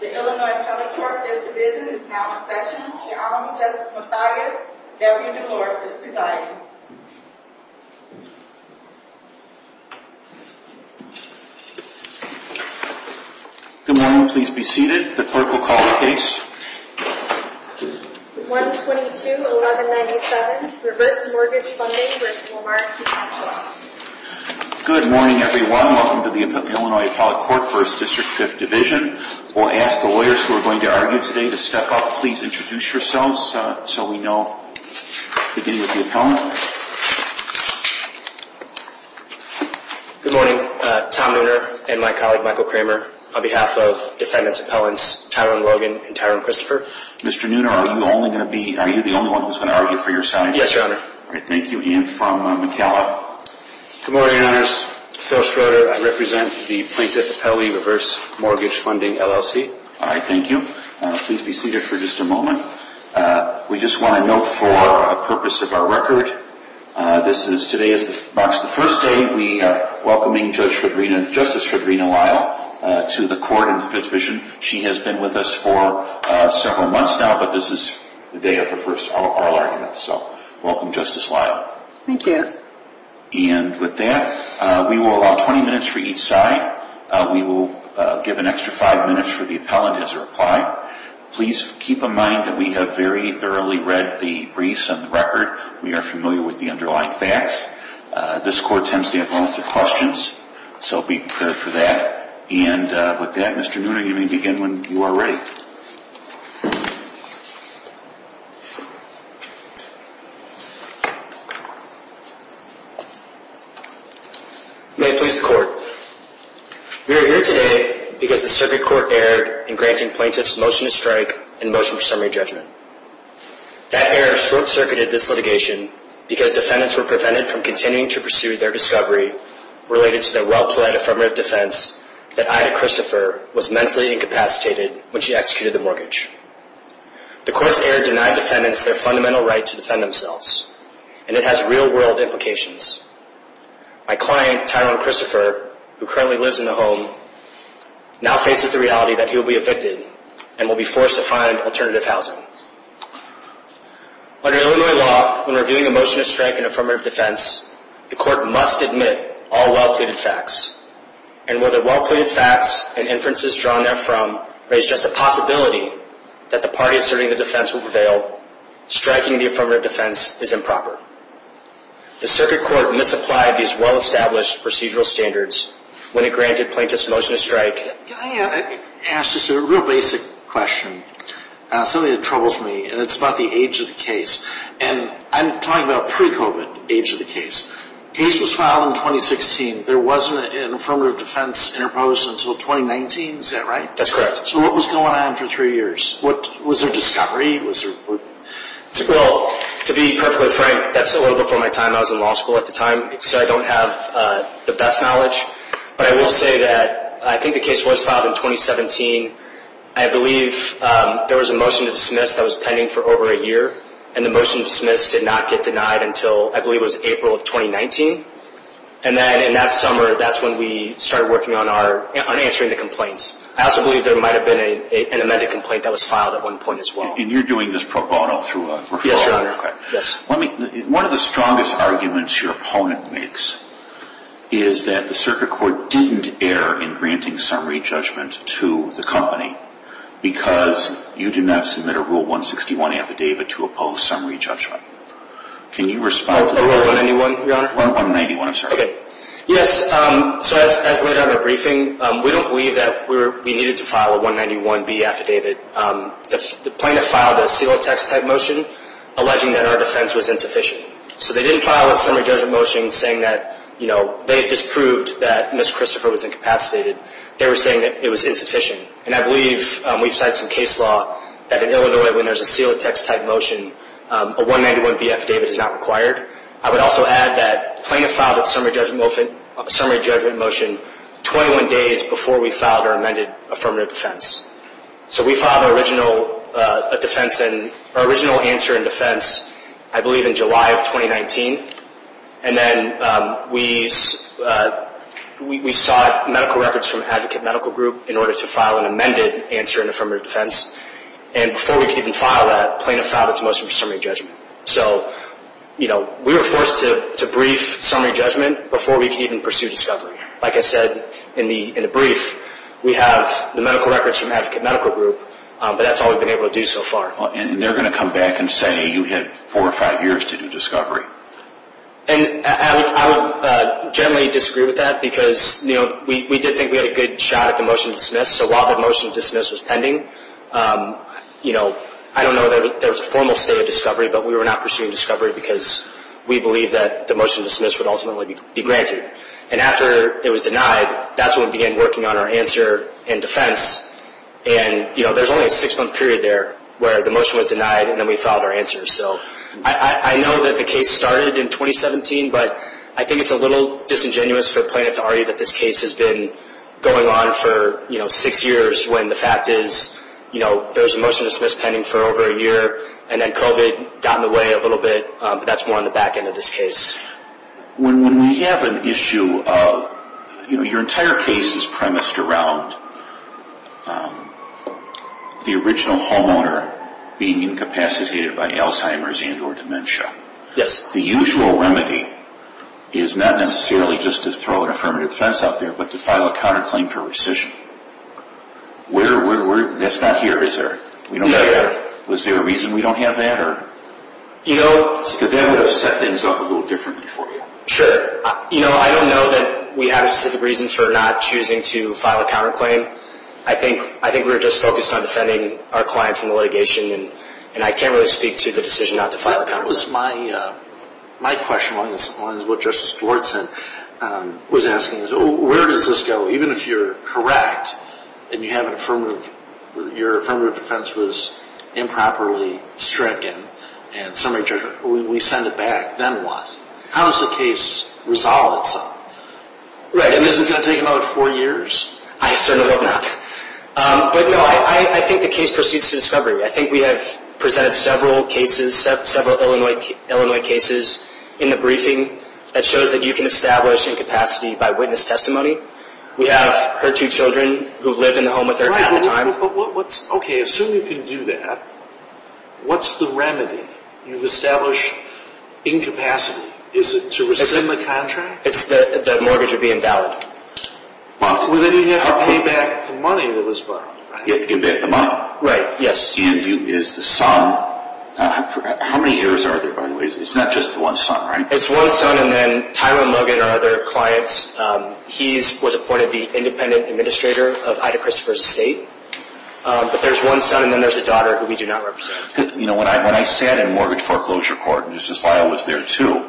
The Illinois Appellate Court, 5th Division, is now in session. Your Honor, Justice Mathias, Debbie DeLore is presiding. Good morning, please be seated. The clerk will call the case. 122-1197, Reverse Mortgage Funding v. Lamar T. Catchins. Good morning, everyone. Welcome to the Illinois Appellate Court, 1st District, 5th Division. We'll ask the lawyers who are going to argue today to step up. Please introduce yourselves so we know. We'll begin with the appellant. Good morning. Tom Nooner and my colleague, Michael Kramer, on behalf of defendants, appellants, Tyrone Logan and Tyrone Christopher. Mr. Nooner, are you the only one who's going to argue for your side? Yes, Your Honor. All right, thank you. Ian from McAllen. Good morning, Your Honors. Phil Schroeder, I represent the Plaintiff Appellee Reverse Mortgage Funding LLC. All right, thank you. Please be seated for just a moment. We just want to note for the purpose of our record, today marks the first day we are welcoming Justice Fredrina Lyle to the court in the 5th Division. She has been with us for several months now, but this is the day of her first oral argument. So welcome, Justice Lyle. Thank you. And with that, we will allow 20 minutes for each side. We will give an extra 5 minutes for the appellant as a reply. Please keep in mind that we have very thoroughly read the briefs and the record. We are familiar with the underlying facts. This court tends to have lots of questions, so be prepared for that. And with that, Mr. Noonan, you may begin when you are ready. May it please the Court. We are here today because the circuit court erred in granting plaintiffs motion to strike and motion for summary judgment. That error short-circuited this litigation because defendants were prevented from continuing to pursue their discovery related to their well-played affirmative defense that Ida Christopher was mentally incapacitated when she executed the mortgage. The court's error denied defendants their fundamental right to defend themselves, and it has real-world implications. My client, Tyrone Christopher, who currently lives in the home, now faces the reality that he will be evicted and will be forced to find alternative housing. Under Illinois law, when reviewing a motion to strike an affirmative defense, the court must admit all well-pleaded facts. And where the well-pleaded facts and inferences drawn therefrom raise just the possibility that the party asserting the defense will prevail, striking the affirmative defense is improper. The circuit court misapplied these well-established procedural standards when it granted plaintiffs motion to strike. I asked just a real basic question, something that troubles me, and it's about the age of the case. And I'm talking about pre-COVID age of the case. The case was filed in 2016. There wasn't an affirmative defense interposed until 2019. Is that right? That's correct. So what was going on for three years? Was there discovery? Well, to be perfectly frank, that's a little before my time. I was in law school at the time, so I don't have the best knowledge. But I will say that I think the case was filed in 2017. I believe there was a motion to dismiss that was pending for over a year, and the motion to dismiss did not get denied until I believe it was April of 2019. And then in that summer, that's when we started working on answering the complaints. I also believe there might have been an amended complaint that was filed at one point as well. And you're doing this pro bono through a referral? Yes, Your Honor. One of the strongest arguments your opponent makes is that the circuit court didn't err in granting summary judgment to the company because you did not submit a Rule 161 affidavit to oppose summary judgment. Can you respond to that? Rule 191, Your Honor? Rule 191, I'm sorry. Okay. Yes. So as laid out in the briefing, we don't believe that we needed to file a 191B affidavit. The plaintiff filed a seal of text type motion alleging that our defense was insufficient. So they didn't file a summary judgment motion saying that they had disproved that Ms. Christopher was incapacitated. They were saying that it was insufficient. And I believe we've cited some case law that in Illinois when there's a seal of text type motion, a 191B affidavit is not required. I would also add that the plaintiff filed a summary judgment motion 21 days before we filed our amended affirmative defense. So we filed our original defense and our original answer in defense, I believe, in July of 2019. And then we sought medical records from Advocate Medical Group in order to file an amended answer in affirmative defense. And before we could even file that, the plaintiff filed its motion for summary judgment. So, you know, we were forced to brief summary judgment before we could even pursue discovery. Like I said, in the brief, we have the medical records from Advocate Medical Group, but that's all we've been able to do so far. And they're going to come back and say you had four or five years to do discovery. And I would generally disagree with that because, you know, we did think we had a good shot at the motion to dismiss. So while the motion to dismiss was pending, you know, I don't know that there was a formal state of discovery, but we were not pursuing discovery because we believe that the motion to dismiss would ultimately be granted. And after it was denied, that's when we began working on our answer in defense. And, you know, there's only a six-month period there where the motion was denied and then we filed our answer. So I know that the case started in 2017, but I think it's a little disingenuous for the plaintiff to argue that this case has been going on for six years when the fact is, you know, there was a motion to dismiss pending for over a year and then COVID got in the way a little bit. That's more on the back end of this case. When we have an issue of, you know, your entire case is premised around the original homeowner being incapacitated by Alzheimer's and or dementia. Yes. The usual remedy is not necessarily just to throw an affirmative defense out there, but to file a counterclaim for rescission. That's not here, is there? Yeah. Was there a reason we don't have that? Because that would have set things up a little differently for you. Sure. You know, I don't know that we have a specific reason for not choosing to file a counterclaim. I think we were just focused on defending our clients in the litigation, and I can't really speak to the decision not to file a counterclaim. My question is on what Justice Dwartson was asking. Where does this go? Even if you're correct and you have an affirmative, your affirmative defense was improperly stricken and summary judgment, we send it back. Then what? How does the case resolve itself? Right. And is it going to take another four years? I certainly hope not. But no, I think the case proceeds to discovery. I think we have presented several cases, several Illinois cases in the briefing that shows that you can establish incapacity by witness testimony. We have her two children who live in the home with her at the time. Right, but what's – okay, assume you can do that. What's the remedy? You've established incapacity. Is it to rescind the contract? The mortgage would be invalid. Well, then you'd have to pay back the money that was borrowed. You'd have to commit the money. Right, yes. And is the son – how many years are there, by the way? It's not just the one son, right? It's one son, and then Tyler and Logan are other clients. He was appointed the independent administrator of Ida Christopher's estate. But there's one son, and then there's a daughter who we do not represent. When I sat in mortgage foreclosure court, and Justice Lyle was there, too,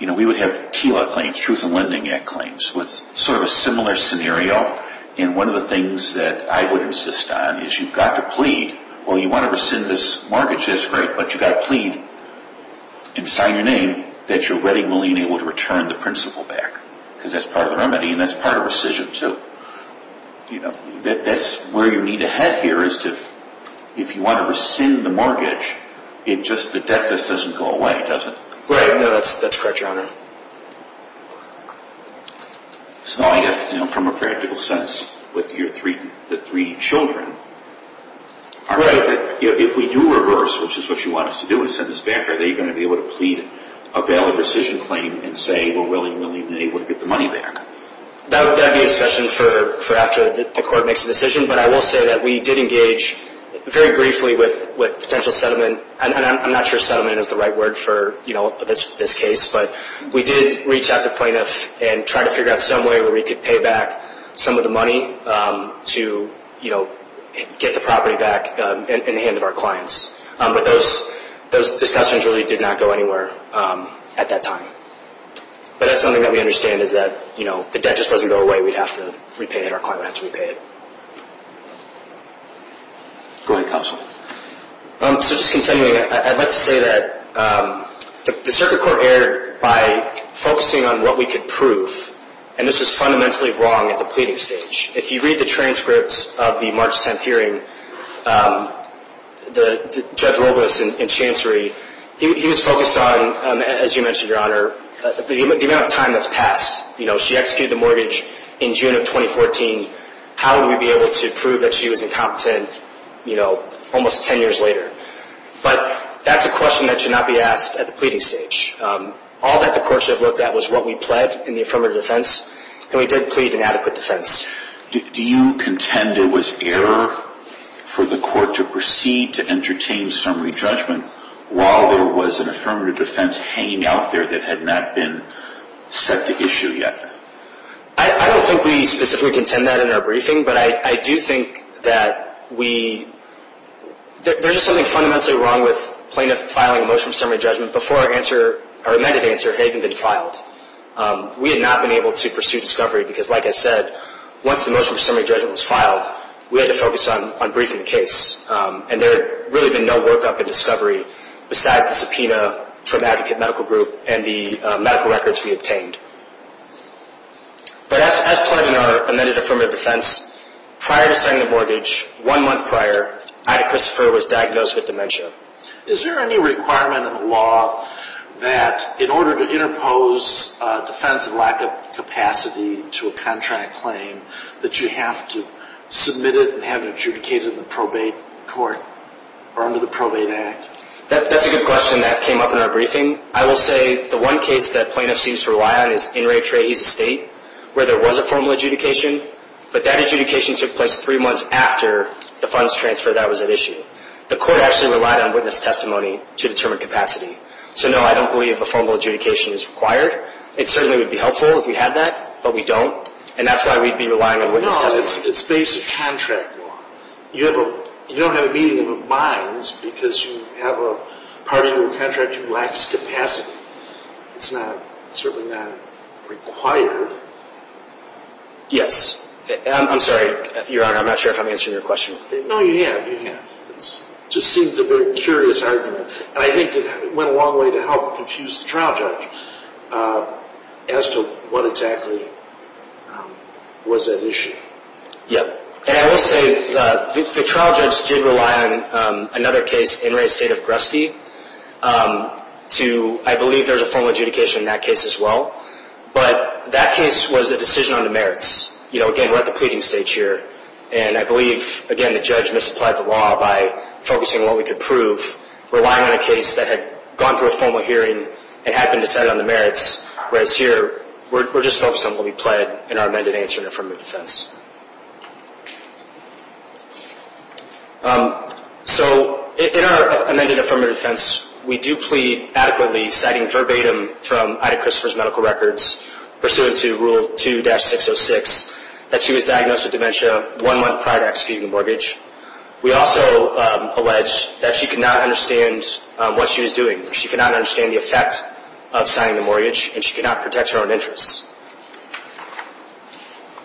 we would have TILA claims, Truth in Lending Act claims, with sort of a similar scenario. And one of the things that I would insist on is you've got to plead. Well, you want to rescind this mortgage. That's great, but you've got to plead and sign your name that you're ready and willing and able to return the principal back because that's part of the remedy, and that's part of rescission, too. That's where you need to head here is if you want to rescind the mortgage, the debt just doesn't go away, does it? Right, no, that's correct, Your Honor. So I guess from a practical sense with the three children, if we do reverse, which is what you want us to do and send this back, are they going to be able to plead a valid rescission claim and say we're willing and able to get the money back? That would be a discussion for after the court makes a decision. But I will say that we did engage very briefly with potential settlement, and I'm not sure settlement is the right word for this case. But we did reach out to plaintiffs and try to figure out some way where we could pay back some of the money to get the property back in the hands of our clients. But those discussions really did not go anywhere at that time. But that's something that we understand is that the debt just doesn't go away. We'd have to repay it. Our client would have to repay it. Go ahead, counsel. So just continuing, I'd like to say that the circuit court erred by focusing on what we could prove, and this was fundamentally wrong at the pleading stage. If you read the transcripts of the March 10th hearing, Judge Robas and Chancery, he was focused on, as you mentioned, Your Honor, the amount of time that's passed. She executed the mortgage in June of 2014. How would we be able to prove that she was incompetent, you know, almost 10 years later? But that's a question that should not be asked at the pleading stage. All that the court should have looked at was what we pled in the affirmative defense, and we did plead an adequate defense. Do you contend it was error for the court to proceed to entertain summary judgment while there was an affirmative defense hanging out there that had not been set to issue yet? I don't think we specifically contend that in our briefing, but I do think that we – there's just something fundamentally wrong with plaintiff filing a motion of summary judgment before our answer, our amended answer, had even been filed. We had not been able to pursue discovery because, like I said, once the motion of summary judgment was filed, we had to focus on briefing the case, and there had really been no workup in discovery besides the subpoena from Advocate Medical Group and the medical records we obtained. But as pled in our amended affirmative defense, prior to signing the mortgage, one month prior, Ida Christopher was diagnosed with dementia. Is there any requirement in the law that in order to interpose defense of lack of capacity to a contract claim, that you have to submit it and have it adjudicated in the probate court or under the Probate Act? That's a good question that came up in our briefing. I will say the one case that plaintiffs seem to rely on is In re Trahe's estate, where there was a formal adjudication, but that adjudication took place three months after the funds transfer that was at issue. The court actually relied on witness testimony to determine capacity. So, no, I don't believe a formal adjudication is required. It certainly would be helpful if we had that, but we don't, and that's why we'd be relying on witness testimony. No, it's based on contract law. You don't have a meeting of the minds because you have a party to a contract who lacks capacity. It's certainly not required. Yes. I'm sorry, Your Honor, I'm not sure if I'm answering your question. No, you have. You have. It just seemed a very curious argument, and I think it went a long way to help confuse the trial judge as to what exactly was at issue. Yes. And I will say the trial judge did rely on another case, In re Trahe's estate of Grusky. I believe there was a formal adjudication in that case as well, but that case was a decision on the merits. Again, we're at the pleading stage here, and I believe, again, the judge misapplied the law by focusing on what we could prove, relying on a case that had gone through a formal hearing and had been decided on the merits, whereas here we're just focused on what we plead in our amended answer in affirmative defense. So in our amended affirmative defense, we do plead adequately citing verbatim from Ida Christopher's medical records, pursuant to Rule 2-606, that she was diagnosed with dementia one month prior to executing the mortgage. We also allege that she could not understand what she was doing. She could not understand the effect of signing the mortgage, and she could not protect her own interests.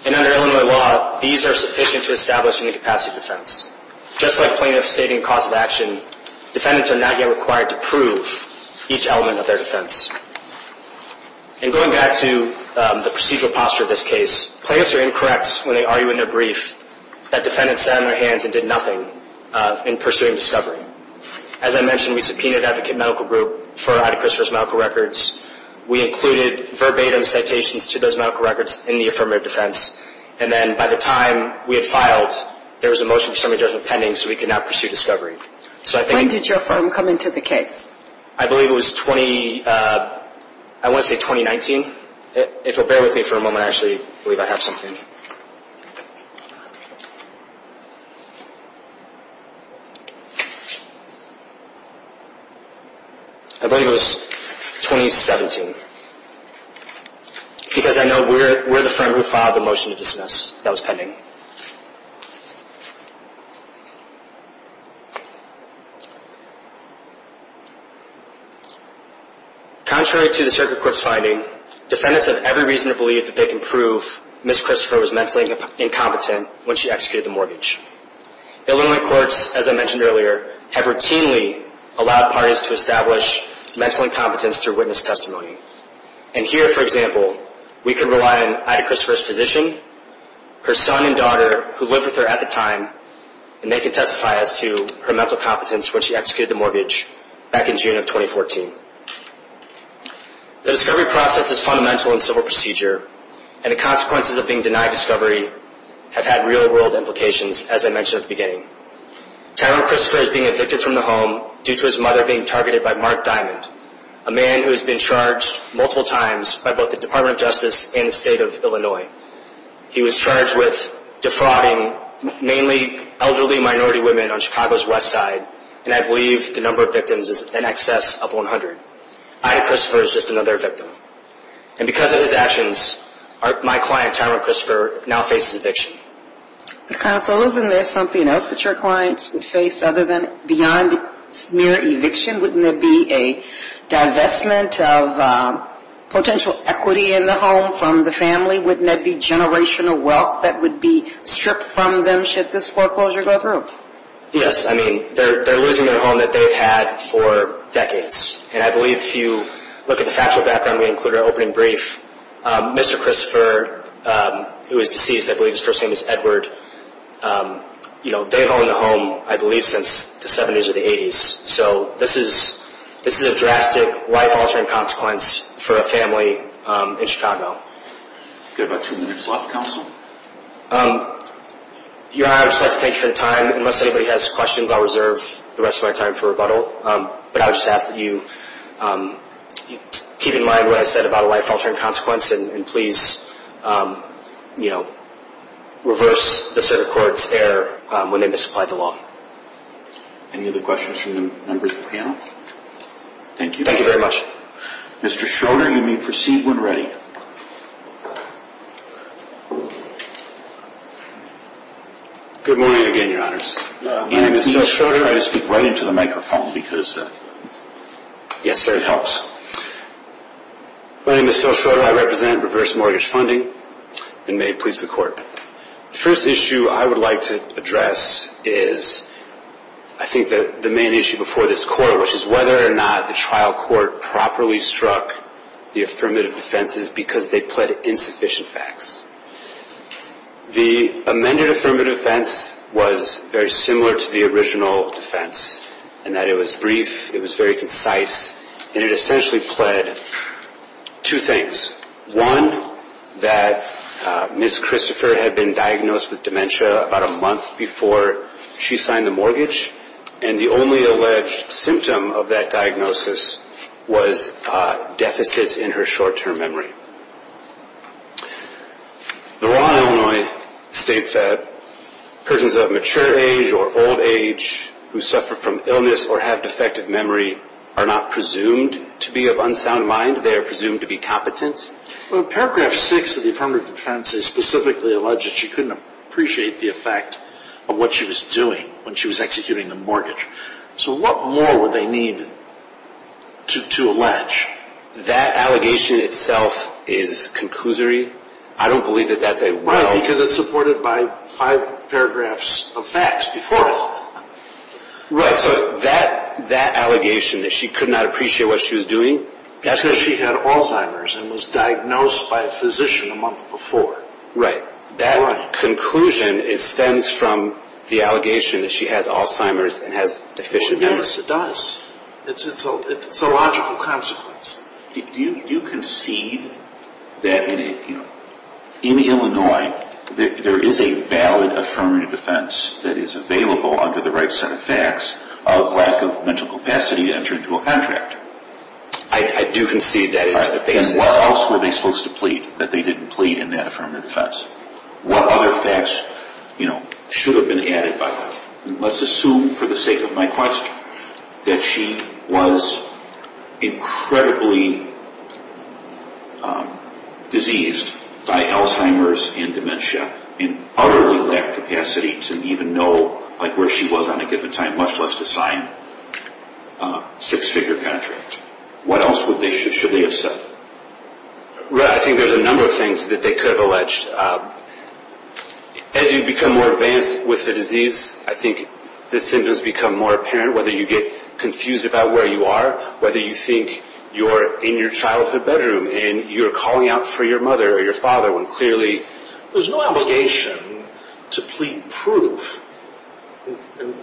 And under Illinois law, these are sufficient to establish an incapacity defense. Just like plaintiffs stating cause of action, defendants are not yet required to prove each element of their defense. And going back to the procedural posture of this case, plaintiffs are incorrect when they argue in their brief that defendants sat on their hands and did nothing in pursuing discovery. As I mentioned, we subpoenaed Advocate Medical Group for Ida Christopher's medical records. We included verbatim citations to those medical records in the affirmative defense. And then by the time we had filed, there was a motion for summary judgment pending, so we could now pursue discovery. When did your firm come into the case? I believe it was 20, I want to say 2019. If you'll bear with me for a moment, I actually believe I have something. I believe it was 2017. Because I know we're the firm who filed the motion to dismiss that was pending. Contrary to the circuit court's finding, defendants have every reason to believe that they can prove Ms. Christopher was mentally incompetent when she executed the mortgage. Illinois courts, as I mentioned earlier, have routinely allowed parties to establish mental incompetence through witness testimony. And here, for example, we can rely on Ida Christopher's physician, her son and daughter who lived with her at the time, and they can testify as to her mental competence when she executed the mortgage back in June of 2014. The discovery process is fundamental in civil procedure, and the consequences of being denied discovery have had real-world implications, as I mentioned at the beginning. Tyler Christopher is being evicted from the home due to his mother being targeted by Mark Diamond, a man who has been charged multiple times by both the Department of Justice and the state of Illinois. He was charged with defrauding mainly elderly minority women on Chicago's west side, and I believe the number of victims is in excess of 100. Ida Christopher is just another victim. And because of his actions, my client Tyler Christopher now faces eviction. Counsel, isn't there something else that your clients would face other than beyond mere eviction? Wouldn't there be a divestment of potential equity in the home from the family? Wouldn't there be generational wealth that would be stripped from them should this foreclosure go through? Yes, I mean, they're losing their home that they've had for decades. And I believe if you look at the factual background we included in our opening brief, Mr. Christopher, who is deceased, I believe his first name is Edward, they've owned the home, I believe, since the 70s or the 80s. So this is a drastic, life-altering consequence for a family in Chicago. We've got about two minutes left, counsel. Your Honor, I'd just like to thank you for your time. Unless anybody has questions, I'll reserve the rest of my time for rebuttal. But I would just ask that you keep in mind what I said about a life-altering consequence and please reverse the circuit court's error when they misapply the law. Any other questions from the members of the panel? Thank you. Thank you very much. Mr. Schroeder, you may proceed when ready. Good morning again, Your Honors. My name is Phil Schroeder. Can you try to speak right into the microphone? Yes, sir, it helps. My name is Phil Schroeder. I represent Reverse Mortgage Funding and may it please the Court. The first issue I would like to address is, I think, the main issue before this Court, which is whether or not the trial court properly struck the affirmative defenses because they pled insufficient facts. The amended affirmative defense was very similar to the original defense in that it was brief, it was very concise, and it essentially pled two things. One, that Ms. Christopher had been diagnosed with dementia about a month before she signed the mortgage, and the only alleged symptom of that diagnosis was deficits in her short-term memory. The law in Illinois states that persons of mature age or old age who suffer from illness or have defective memory are not presumed to be of unsound mind. They are presumed to be competent. Paragraph 6 of the affirmative defense is specifically alleged that she couldn't appreciate the effect of what she was doing when she was executing the mortgage. So what more would they need to allege? That allegation itself is conclusory. I don't believe that that's a well- Right, because it's supported by five paragraphs of facts before it. Right, so that allegation that she could not appreciate what she was doing- Because she had Alzheimer's and was diagnosed by a physician a month before. Right. That conclusion stems from the allegation that she has Alzheimer's and has deficient memory. Yes, it does. It's a logical consequence. Do you concede that in Illinois there is a valid affirmative defense that is available under the right set of facts of lack of mental capacity to enter into a contract? I do concede that is the basis. Then what else were they supposed to plead that they didn't plead in that affirmative defense? What other facts should have been added by that? Let's assume for the sake of my question that she was incredibly diseased by Alzheimer's and dementia and utterly lacked capacity to even know where she was on a given time, much less to sign a six-figure contract. What else should they have said? I think there's a number of things that they could have alleged. As you become more advanced with the disease, I think the symptoms become more apparent, whether you get confused about where you are, whether you think you're in your childhood bedroom and you're calling out for your mother or your father when clearly there's no obligation to plead proof.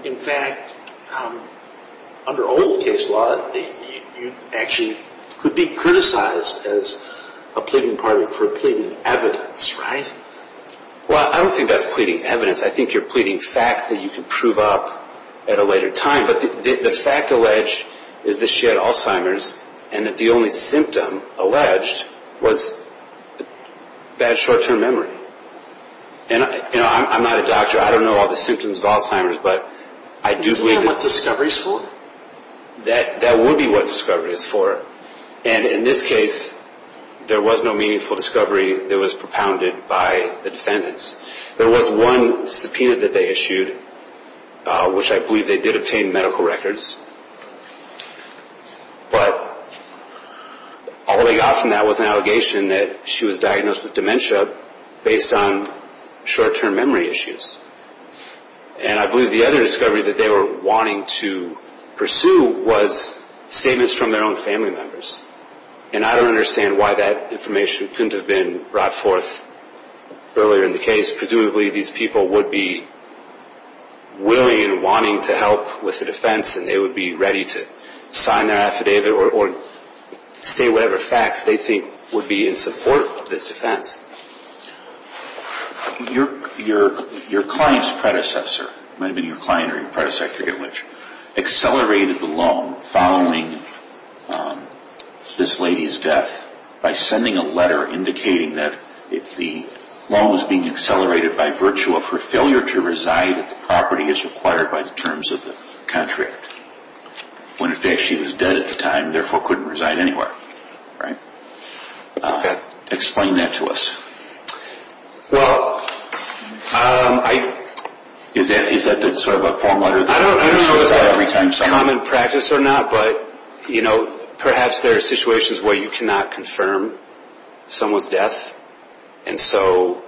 In fact, under old case law, you actually could be criticized as a pleading party for pleading evidence, right? Well, I don't think that's pleading evidence. I think you're pleading facts that you can prove up at a later time. But the fact alleged is that she had Alzheimer's and that the only symptom alleged was bad short-term memory. And I'm not a doctor. I don't know all the symptoms of Alzheimer's, but I do believe that... Is that what discovery is for? That would be what discovery is for. And in this case, there was no meaningful discovery that was propounded by the defendants. There was one subpoena that they issued, which I believe they did obtain medical records. But all they got from that was an allegation that she was diagnosed with dementia based on short-term memory issues. And I believe the other discovery that they were wanting to pursue was statements from their own family members. And I don't understand why that information couldn't have been brought forth earlier in the case. Presumably, these people would be willing and wanting to help with the defense, and they would be ready to sign their affidavit or state whatever facts they think would be in support of this defense. Your client's predecessor, it might have been your client or your predecessor, I forget which, accelerated the loan following this lady's death by sending a letter indicating that the loan was being accelerated by virtue of her failure to reside at the property as required by the terms of the contract. When, in fact, she was dead at the time and therefore couldn't reside anywhere, right? Explain that to us. Well, I... Is that sort of a form letter? I don't know if that's common practice or not, but, you know, perhaps there are situations where you cannot confirm someone's death. And so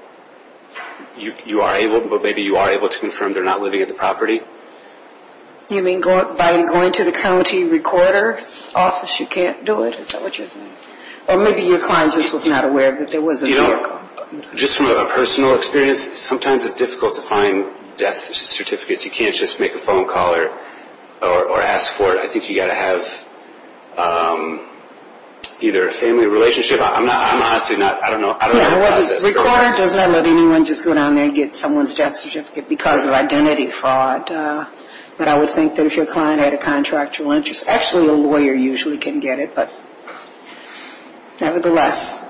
you are able, but maybe you are able to confirm they're not living at the property. You mean by going to the county recorder's office you can't do it? Is that what you're saying? Or maybe your client just was not aware that there was a vehicle. You know, just from a personal experience, sometimes it's difficult to find death certificates. You can't just make a phone call or ask for it. I think you've got to have either a family relationship. I'm honestly not, I don't know. The recorder does not let anyone just go down there and get someone's death certificate because of identity fraud. But I would think that if your client had a contractual interest, actually a lawyer usually can get it, but nevertheless.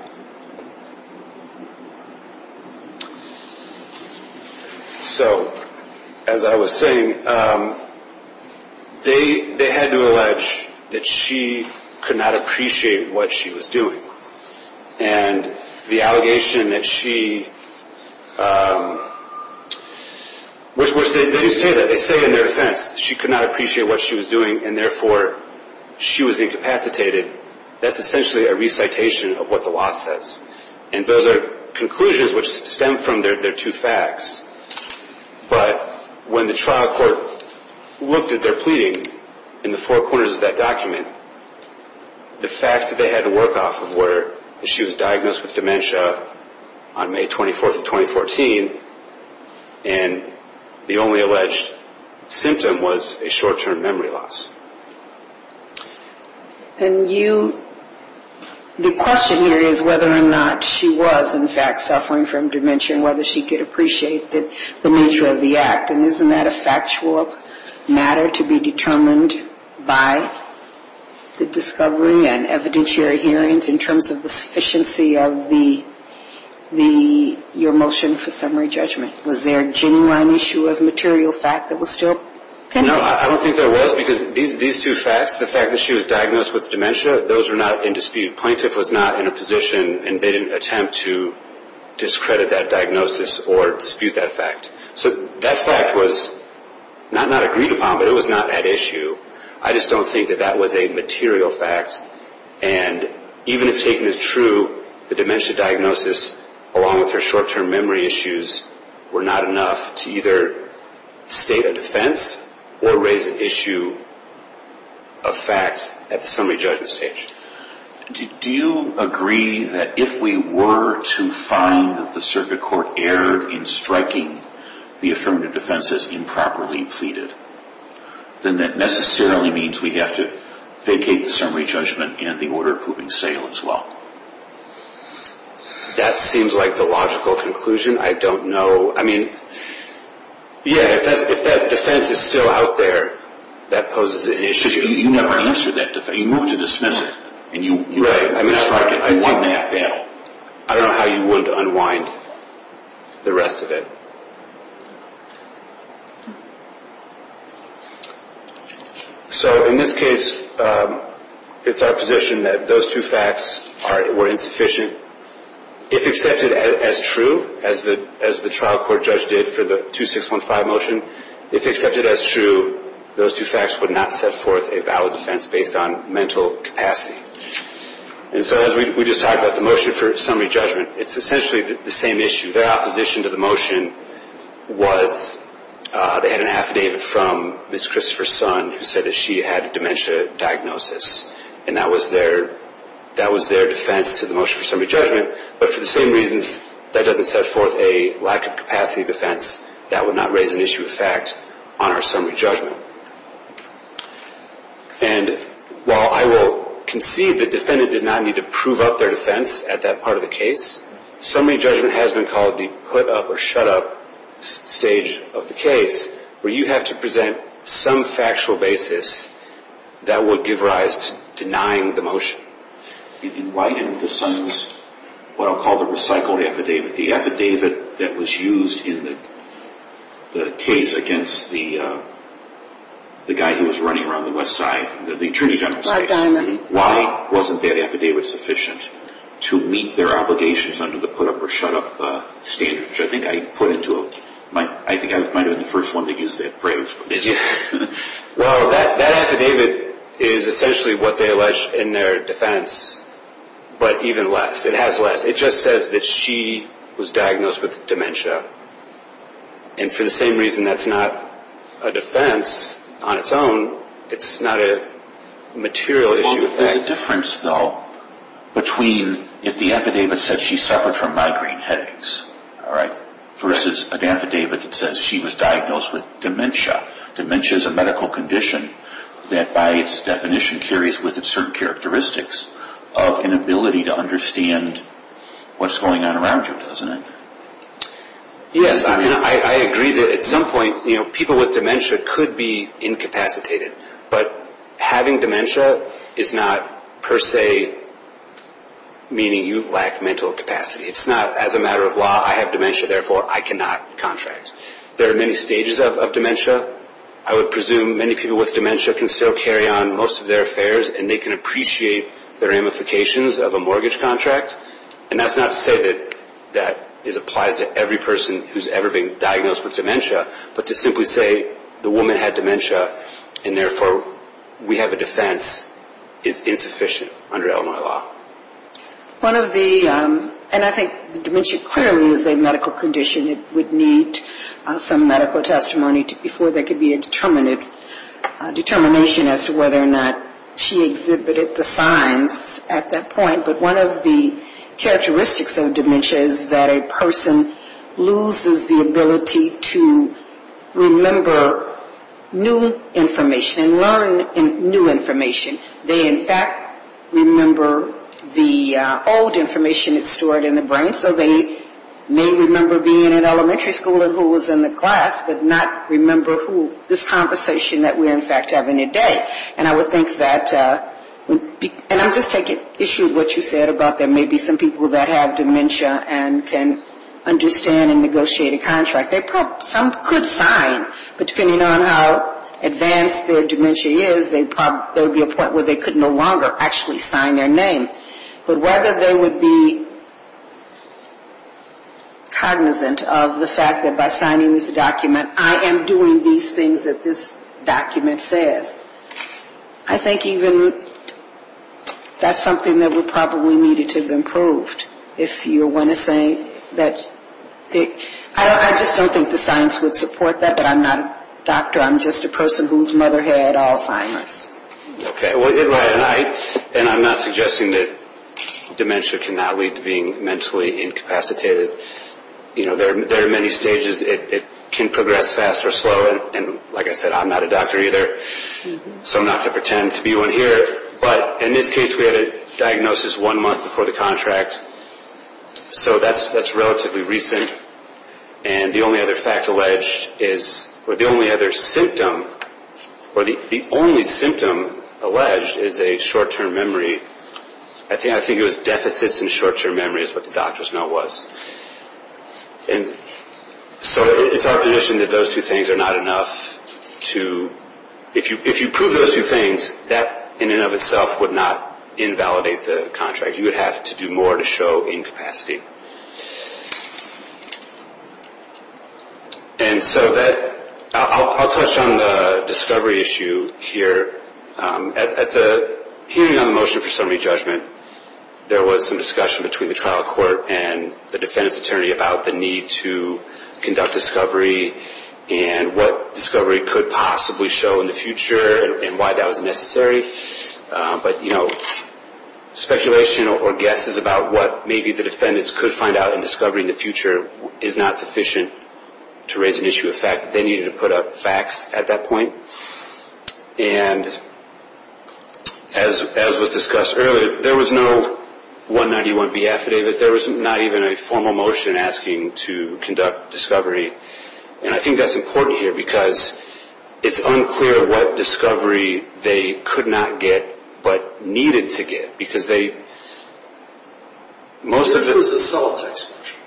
So, as I was saying, they had to allege that she could not appreciate what she was doing. And the allegation that she, which they do say that, they say in their defense, she could not appreciate what she was doing and therefore she was incapacitated. That's essentially a recitation of what the law says. And those are conclusions which stem from their two facts. But when the trial court looked at their pleading in the four corners of that document, the facts that they had to work off of were that she was diagnosed with dementia on May 24th of 2014, and the only alleged symptom was a short-term memory loss. And you, the question here is whether or not she was in fact suffering from dementia and whether she could appreciate the nature of the act. And isn't that a factual matter to be determined by the discovery and evidence you're hearing in terms of the sufficiency of your motion for summary judgment? Was there a genuine issue of material fact that was still pending? No, I don't think there was because these two facts, the fact that she was diagnosed with dementia, those were not in dispute. Plaintiff was not in a position and didn't attempt to discredit that diagnosis or dispute that fact. So that fact was not agreed upon, but it was not at issue. I just don't think that that was a material fact. And even if taken as true, the dementia diagnosis, along with her short-term memory issues, were not enough to either state a defense or raise an issue of facts at the summary judgment stage. Do you agree that if we were to find that the circuit court erred in striking the affirmative defense as improperly pleaded, then that necessarily means we have to vacate the summary judgment and the order of proving sale as well? That seems like the logical conclusion. I don't know. I mean, yeah, if that defense is still out there, that poses an issue. Because you never answered that defense. You moved to dismiss it. Right. I mean, I don't know how you would unwind the rest of it. So in this case, it's our position that those two facts were insufficient. If accepted as true, as the trial court judge did for the 2615 motion, if accepted as true, those two facts would not set forth a valid defense based on mental capacity. And so as we just talked about the motion for summary judgment, it's essentially the same issue. Their opposition to the motion was they had an affidavit from Ms. Christopher's son who said that she had a dementia diagnosis. And that was their defense to the motion for summary judgment. But for the same reasons, that doesn't set forth a lack of capacity defense that would not raise an issue of fact on our summary judgment. And while I will concede the defendant did not need to prove up their defense at that part of the case, summary judgment has been called the put up or shut up stage of the case where you have to present some factual basis that would give rise to denying the motion. Why didn't the son's, what I'll call the recycled affidavit, the affidavit that was used in the case against the guy who was running around the west side, the attorney general's case, why wasn't that affidavit sufficient to meet their obligations under the put up or shut up standard? Which I think I put into a, I think I might have been the first one to use that phrase. Well, that affidavit is essentially what they allege in their defense, but even less. It has less. It just says that she was diagnosed with dementia. And for the same reason that's not a defense on its own. It's not a material issue. There's a difference though between if the affidavit said she suffered from migraine headaches, all right, versus an affidavit that says she was diagnosed with dementia. Dementia is a medical condition that by its definition carries with it certain characteristics of inability to understand what's going on around you, doesn't it? Yes, and I agree that at some point, you know, people with dementia could be incapacitated. But having dementia is not per se meaning you lack mental capacity. It's not as a matter of law, I have dementia, therefore I cannot contract. There are many stages of dementia. I would presume many people with dementia can still carry on most of their affairs and they can appreciate the ramifications of a mortgage contract. And that's not to say that that applies to every person who's ever been diagnosed with dementia, but to simply say the woman had dementia and therefore we have a defense is insufficient under Illinois law. One of the, and I think dementia clearly is a medical condition. It would need some medical testimony before there could be a determination as to whether or not she exhibited the signs at that point. But one of the characteristics of dementia is that a person loses the ability to remember new information and learn new information. They, in fact, remember the old information that's stored in the brain. So they may remember being in elementary school and who was in the class, but not remember who this conversation that we're in fact having today. And I would think that, and I'm just taking issue with what you said about there may be some people that have dementia and can understand and negotiate a contract. They probably, some could sign, but depending on how advanced their dementia is, there would be a point where they could no longer actually sign their name. But whether they would be cognizant of the fact that by signing this document, I am doing these things that this document says. I think even that's something that we probably needed to have improved. If you want to say that, I just don't think the science would support that, but I'm not a doctor. I'm just a person whose mother had Alzheimer's. Okay. And I'm not suggesting that dementia cannot lead to being mentally incapacitated. There are many stages. It can progress fast or slow, and like I said, I'm not a doctor either, so I'm not going to pretend to be one here. But in this case, we had a diagnosis one month before the contract. So that's relatively recent. And the only other fact alleged is, or the only other symptom, or the only symptom alleged is a short-term memory. I think it was deficits in short-term memory is what the doctors know it was. And so it's our position that those two things are not enough to – if you prove those two things, that in and of itself would not invalidate the contract. You would have to do more to show incapacity. And so that – I'll touch on the discovery issue here. At the hearing on the motion for summary judgment, there was some discussion between the trial court and the defendant's attorney about the need to conduct discovery and what discovery could possibly show in the future and why that was necessary. But, you know, speculation or guesses about what maybe the defendants could find out in discovery in the future is not sufficient to raise an issue of fact. They needed to put up facts at that point. And as was discussed earlier, there was no 191B affidavit. There was not even a formal motion asking to conduct discovery. And I think that's important here because it's unclear what discovery they could not get but needed to get because they – It was a solid text motion.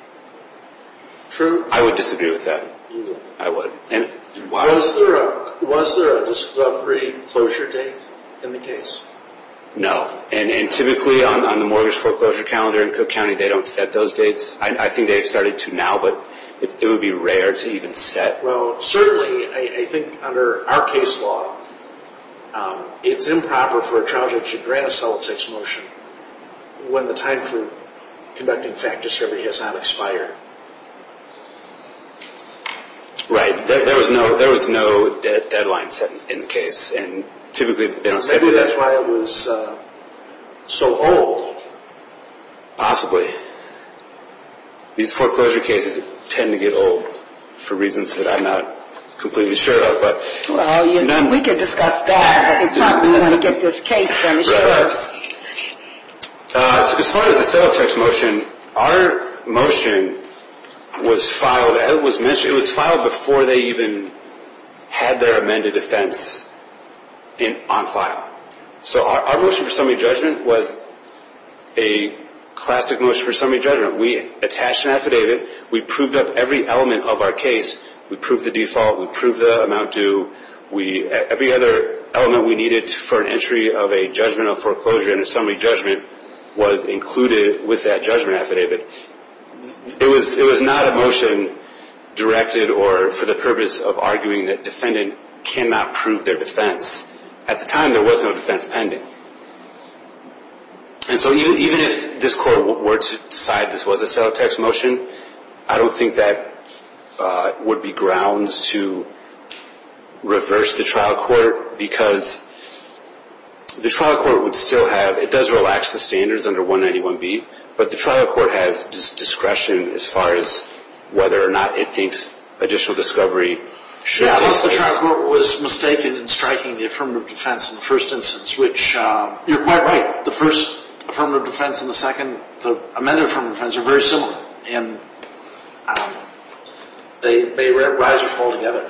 True. I would disagree with that. I would. Was there a discovery closure date in the case? No. And typically on the mortgage foreclosure calendar in Cook County, they don't set those dates. I think they've started to now, but it would be rare to even set. Well, certainly I think under our case law, it's improper for a trial judge to grant a solid text motion when the time for conducting fact discovery has not expired. Right. There was no deadline set in the case. And typically they don't set it. Maybe that's why it was so old. Possibly. These foreclosure cases tend to get old for reasons that I'm not completely sure of. Well, we could discuss that, but they probably want to get this case finished first. As far as the solid text motion, our motion was filed – it was filed before they even had their amended defense on file. So our motion for summary judgment was a classic motion for summary judgment. We attached an affidavit. We proved up every element of our case. We proved the default. We proved the amount due. Every other element we needed for an entry of a judgment of foreclosure and a summary judgment was included with that judgment affidavit. It was not a motion directed or for the purpose of arguing that defendant cannot prove their defense. At the time, there was no defense pending. And so even if this court were to decide this was a solid text motion, I don't think that would be grounds to reverse the trial court because the trial court would still have – it does relax the standards under 191B, but the trial court has discretion as far as whether or not it thinks additional discovery should take place. Yeah, unless the trial court was mistaken in striking the affirmative defense in the first instance, which you're quite right. The first affirmative defense and the second, the amended affirmative defense, are very similar. And they rise or fall together.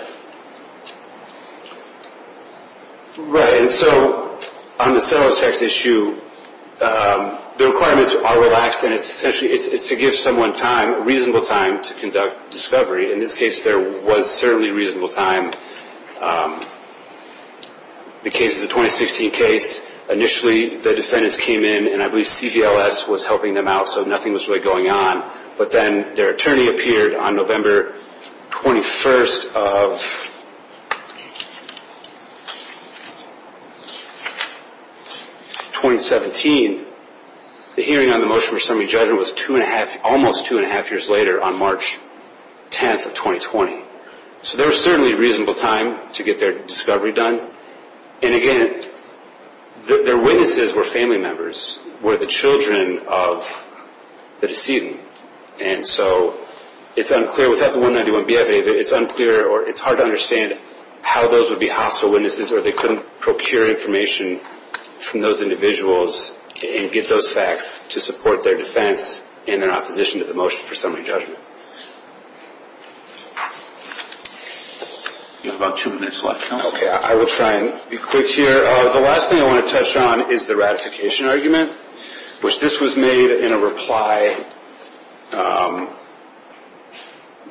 Right. And so on the solid text issue, the requirements are relaxed, and it's essentially to give someone time, reasonable time, to conduct discovery. In this case, there was certainly reasonable time. The case is a 2016 case. Initially, the defendants came in, and I believe CVLS was helping them out, so nothing was really going on. But then their attorney appeared on November 21st of 2017. The hearing on the motion for summary judgment was two and a half – almost two and a half years later on March 10th of 2020. So there was certainly reasonable time to get their discovery done. And, again, their witnesses were family members, were the children of the decedent. And so it's unclear, without the 191BFA, it's unclear or it's hard to understand how those would be hostile witnesses or they couldn't procure information from those individuals and get those facts to support their defense and their opposition to the motion for summary judgment. You have about two minutes left. Okay, I will try and be quick here. The last thing I want to touch on is the ratification argument, which this was made in a reply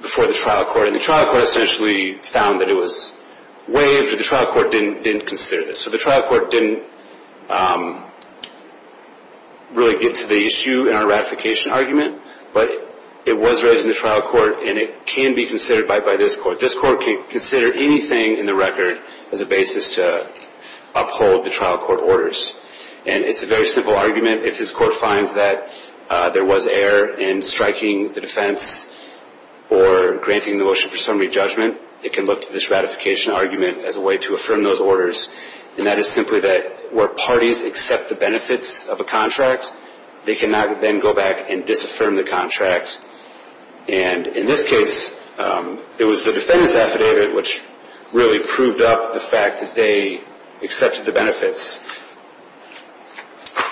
before the trial court. And the trial court essentially found that it was waived, but the trial court didn't consider this. So the trial court didn't really get to the issue in our ratification argument, but it was raised in the trial court, and it can be considered by this court. This court can consider anything in the record as a basis to uphold the trial court orders. And it's a very simple argument. If this court finds that there was error in striking the defense or granting the motion for summary judgment, it can look to this ratification argument as a way to affirm those orders. And that is simply that where parties accept the benefits of a contract, they cannot then go back and disaffirm the contract. And in this case, it was the defense affidavit which really proved up the fact that they accepted the benefits.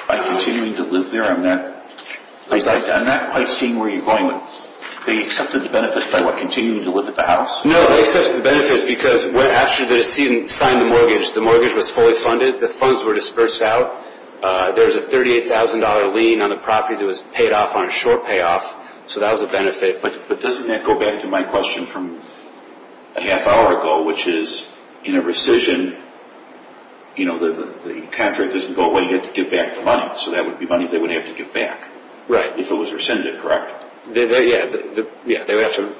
By continuing to live there, I'm not quite seeing where you're going with this. They accepted the benefits by what, continuing to live at the house? No, they accepted the benefits because after they signed the mortgage, the mortgage was fully funded. The funds were dispersed out. There was a $38,000 lien on the property that was paid off on a short payoff. So that was a benefit. But doesn't that go back to my question from a half hour ago, which is in a rescission, you know, the contract doesn't go away. You have to give back the money. So that would be money they would have to give back. Right. If it was rescinded, correct? Yeah, they would have to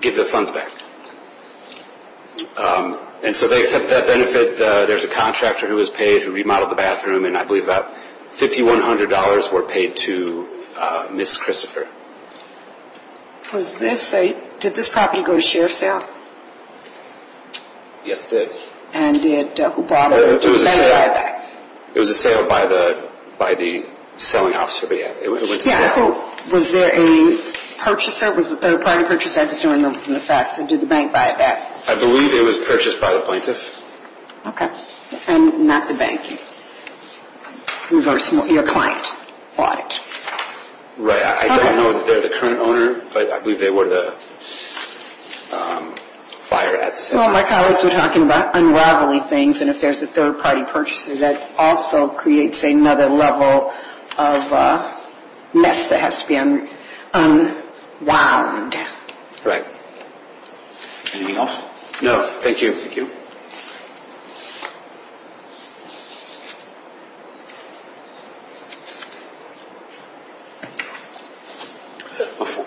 give the funds back. And so they accept that benefit. There's a contractor who was paid who remodeled the bathroom, and I believe about $5,100 were paid to Ms. Christopher. Did this property go to share sale? Yes, it did. And who bought it? It was a sale by the selling officer. Was there a purchaser? Was it a third-party purchaser? I just don't remember from the facts. Did the bank buy it back? I believe it was purchased by the plaintiff. Okay. And not the bank. Your client bought it. Right. I don't know if they're the current owner, but I believe they were the buyer at the same time. Well, my colleagues were talking about unraveling things, and if there's a third-party purchaser, that also creates another level of mess that has to be unwound. Right. Anything else? No. Thank you. Thank you.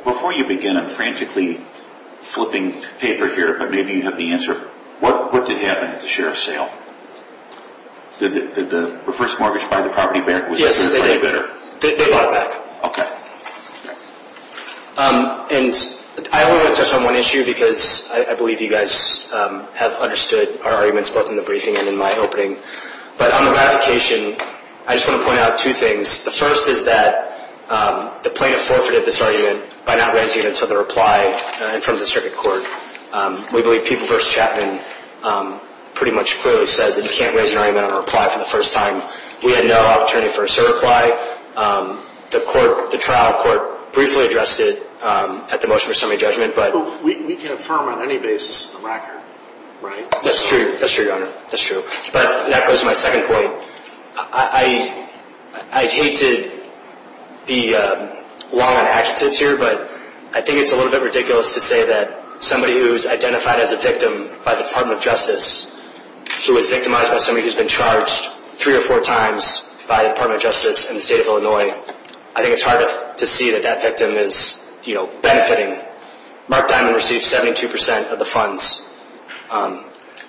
Before you begin, I'm frantically flipping paper here, but maybe you have the answer. What did happen at the share sale? Did the first mortgage buy the property back? Yes, they did. They bought it back. Okay. And I only want to touch on one issue because I believe you guys have understood our arguments, both in the briefing and in my opening. But on the ratification, I just want to point out two things. The first is that the plaintiff forfeited this argument by not raising it until the reply from the circuit court. We believe People v. Chapman pretty much clearly says that you can't raise an argument on a reply for the first time. We had no opportunity for a certify. That's why the trial court briefly addressed it at the motion for summary judgment. We can affirm on any basis in the record, right? That's true. That's true, Your Honor. That's true. But that goes to my second point. I hate to be long on adjectives here, but I think it's a little bit ridiculous to say that somebody who's identified as a victim by the Department of Justice who was victimized by somebody who's been charged three or four times by the Department of Justice in the state of Illinois, I think it's hard to see that that victim is, you know, benefiting. Mark Diamond received 72% of the funds.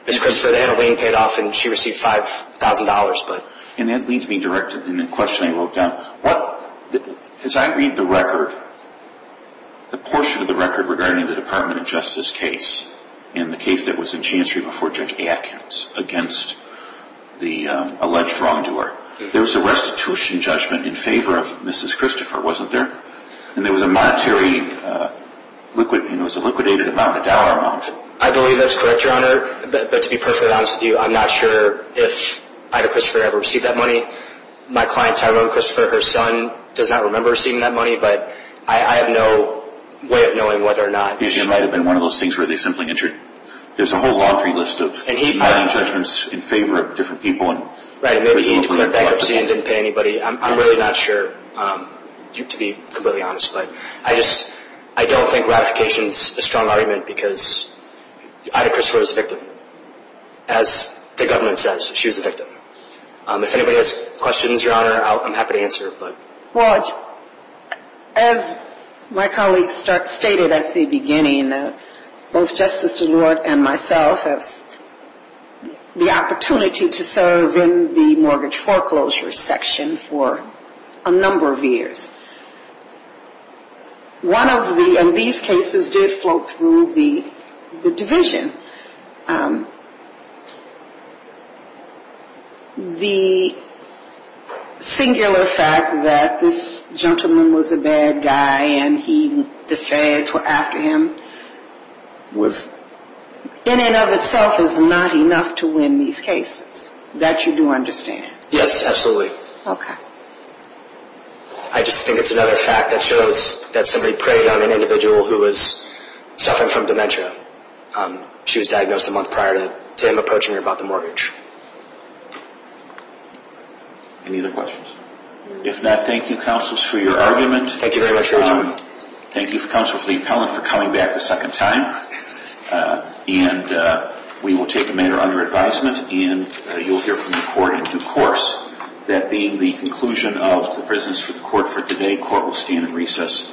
Ms. Christopher, they had a lien paid off and she received $5,000. And that leads me directly to the question I wrote down. As I read the record, the portion of the record regarding the Department of Justice case and the case that was in chancery before Judge Atkins against the alleged wrongdoer, there was a restitution judgment in favor of Mrs. Christopher, wasn't there? And there was a monetary liquidated amount, a dollar amount. I believe that's correct, Your Honor. But to be perfectly honest with you, I'm not sure if Ida Christopher ever received that money. My client, Tyler Christopher, her son, does not remember receiving that money. But I have no way of knowing whether or not. It might have been one of those things where they simply entered. There's a whole laundry list of hiding judgments in favor of different people. Right. Maybe he declared bankruptcy and didn't pay anybody. I'm really not sure, to be completely honest. But I just don't think ratification is a strong argument because Ida Christopher was a victim. As the government says, she was a victim. If anybody has questions, Your Honor, I'm happy to answer. Well, as my colleague stated at the beginning, both Justice DeLort and myself have the opportunity to serve in the mortgage foreclosure section for a number of years. One of these cases did float through the division. The singular fact that this gentleman was a bad guy and the feds were after him, in and of itself is not enough to win these cases. That you do understand? Yes, absolutely. Okay. I just think it's another fact that shows that somebody preyed on an individual who was suffering from dementia. She was diagnosed a month prior to him approaching her about the mortgage. Any other questions? If not, thank you, counsels, for your argument. Thank you very much, Your Honor. Thank you, Counsel Fleet-Pellant, for coming back the second time. And we will take the matter under advisement and you'll hear from the court in due course. That being the conclusion of the presence of the court for today, the court will stand in recess until 11 p.m.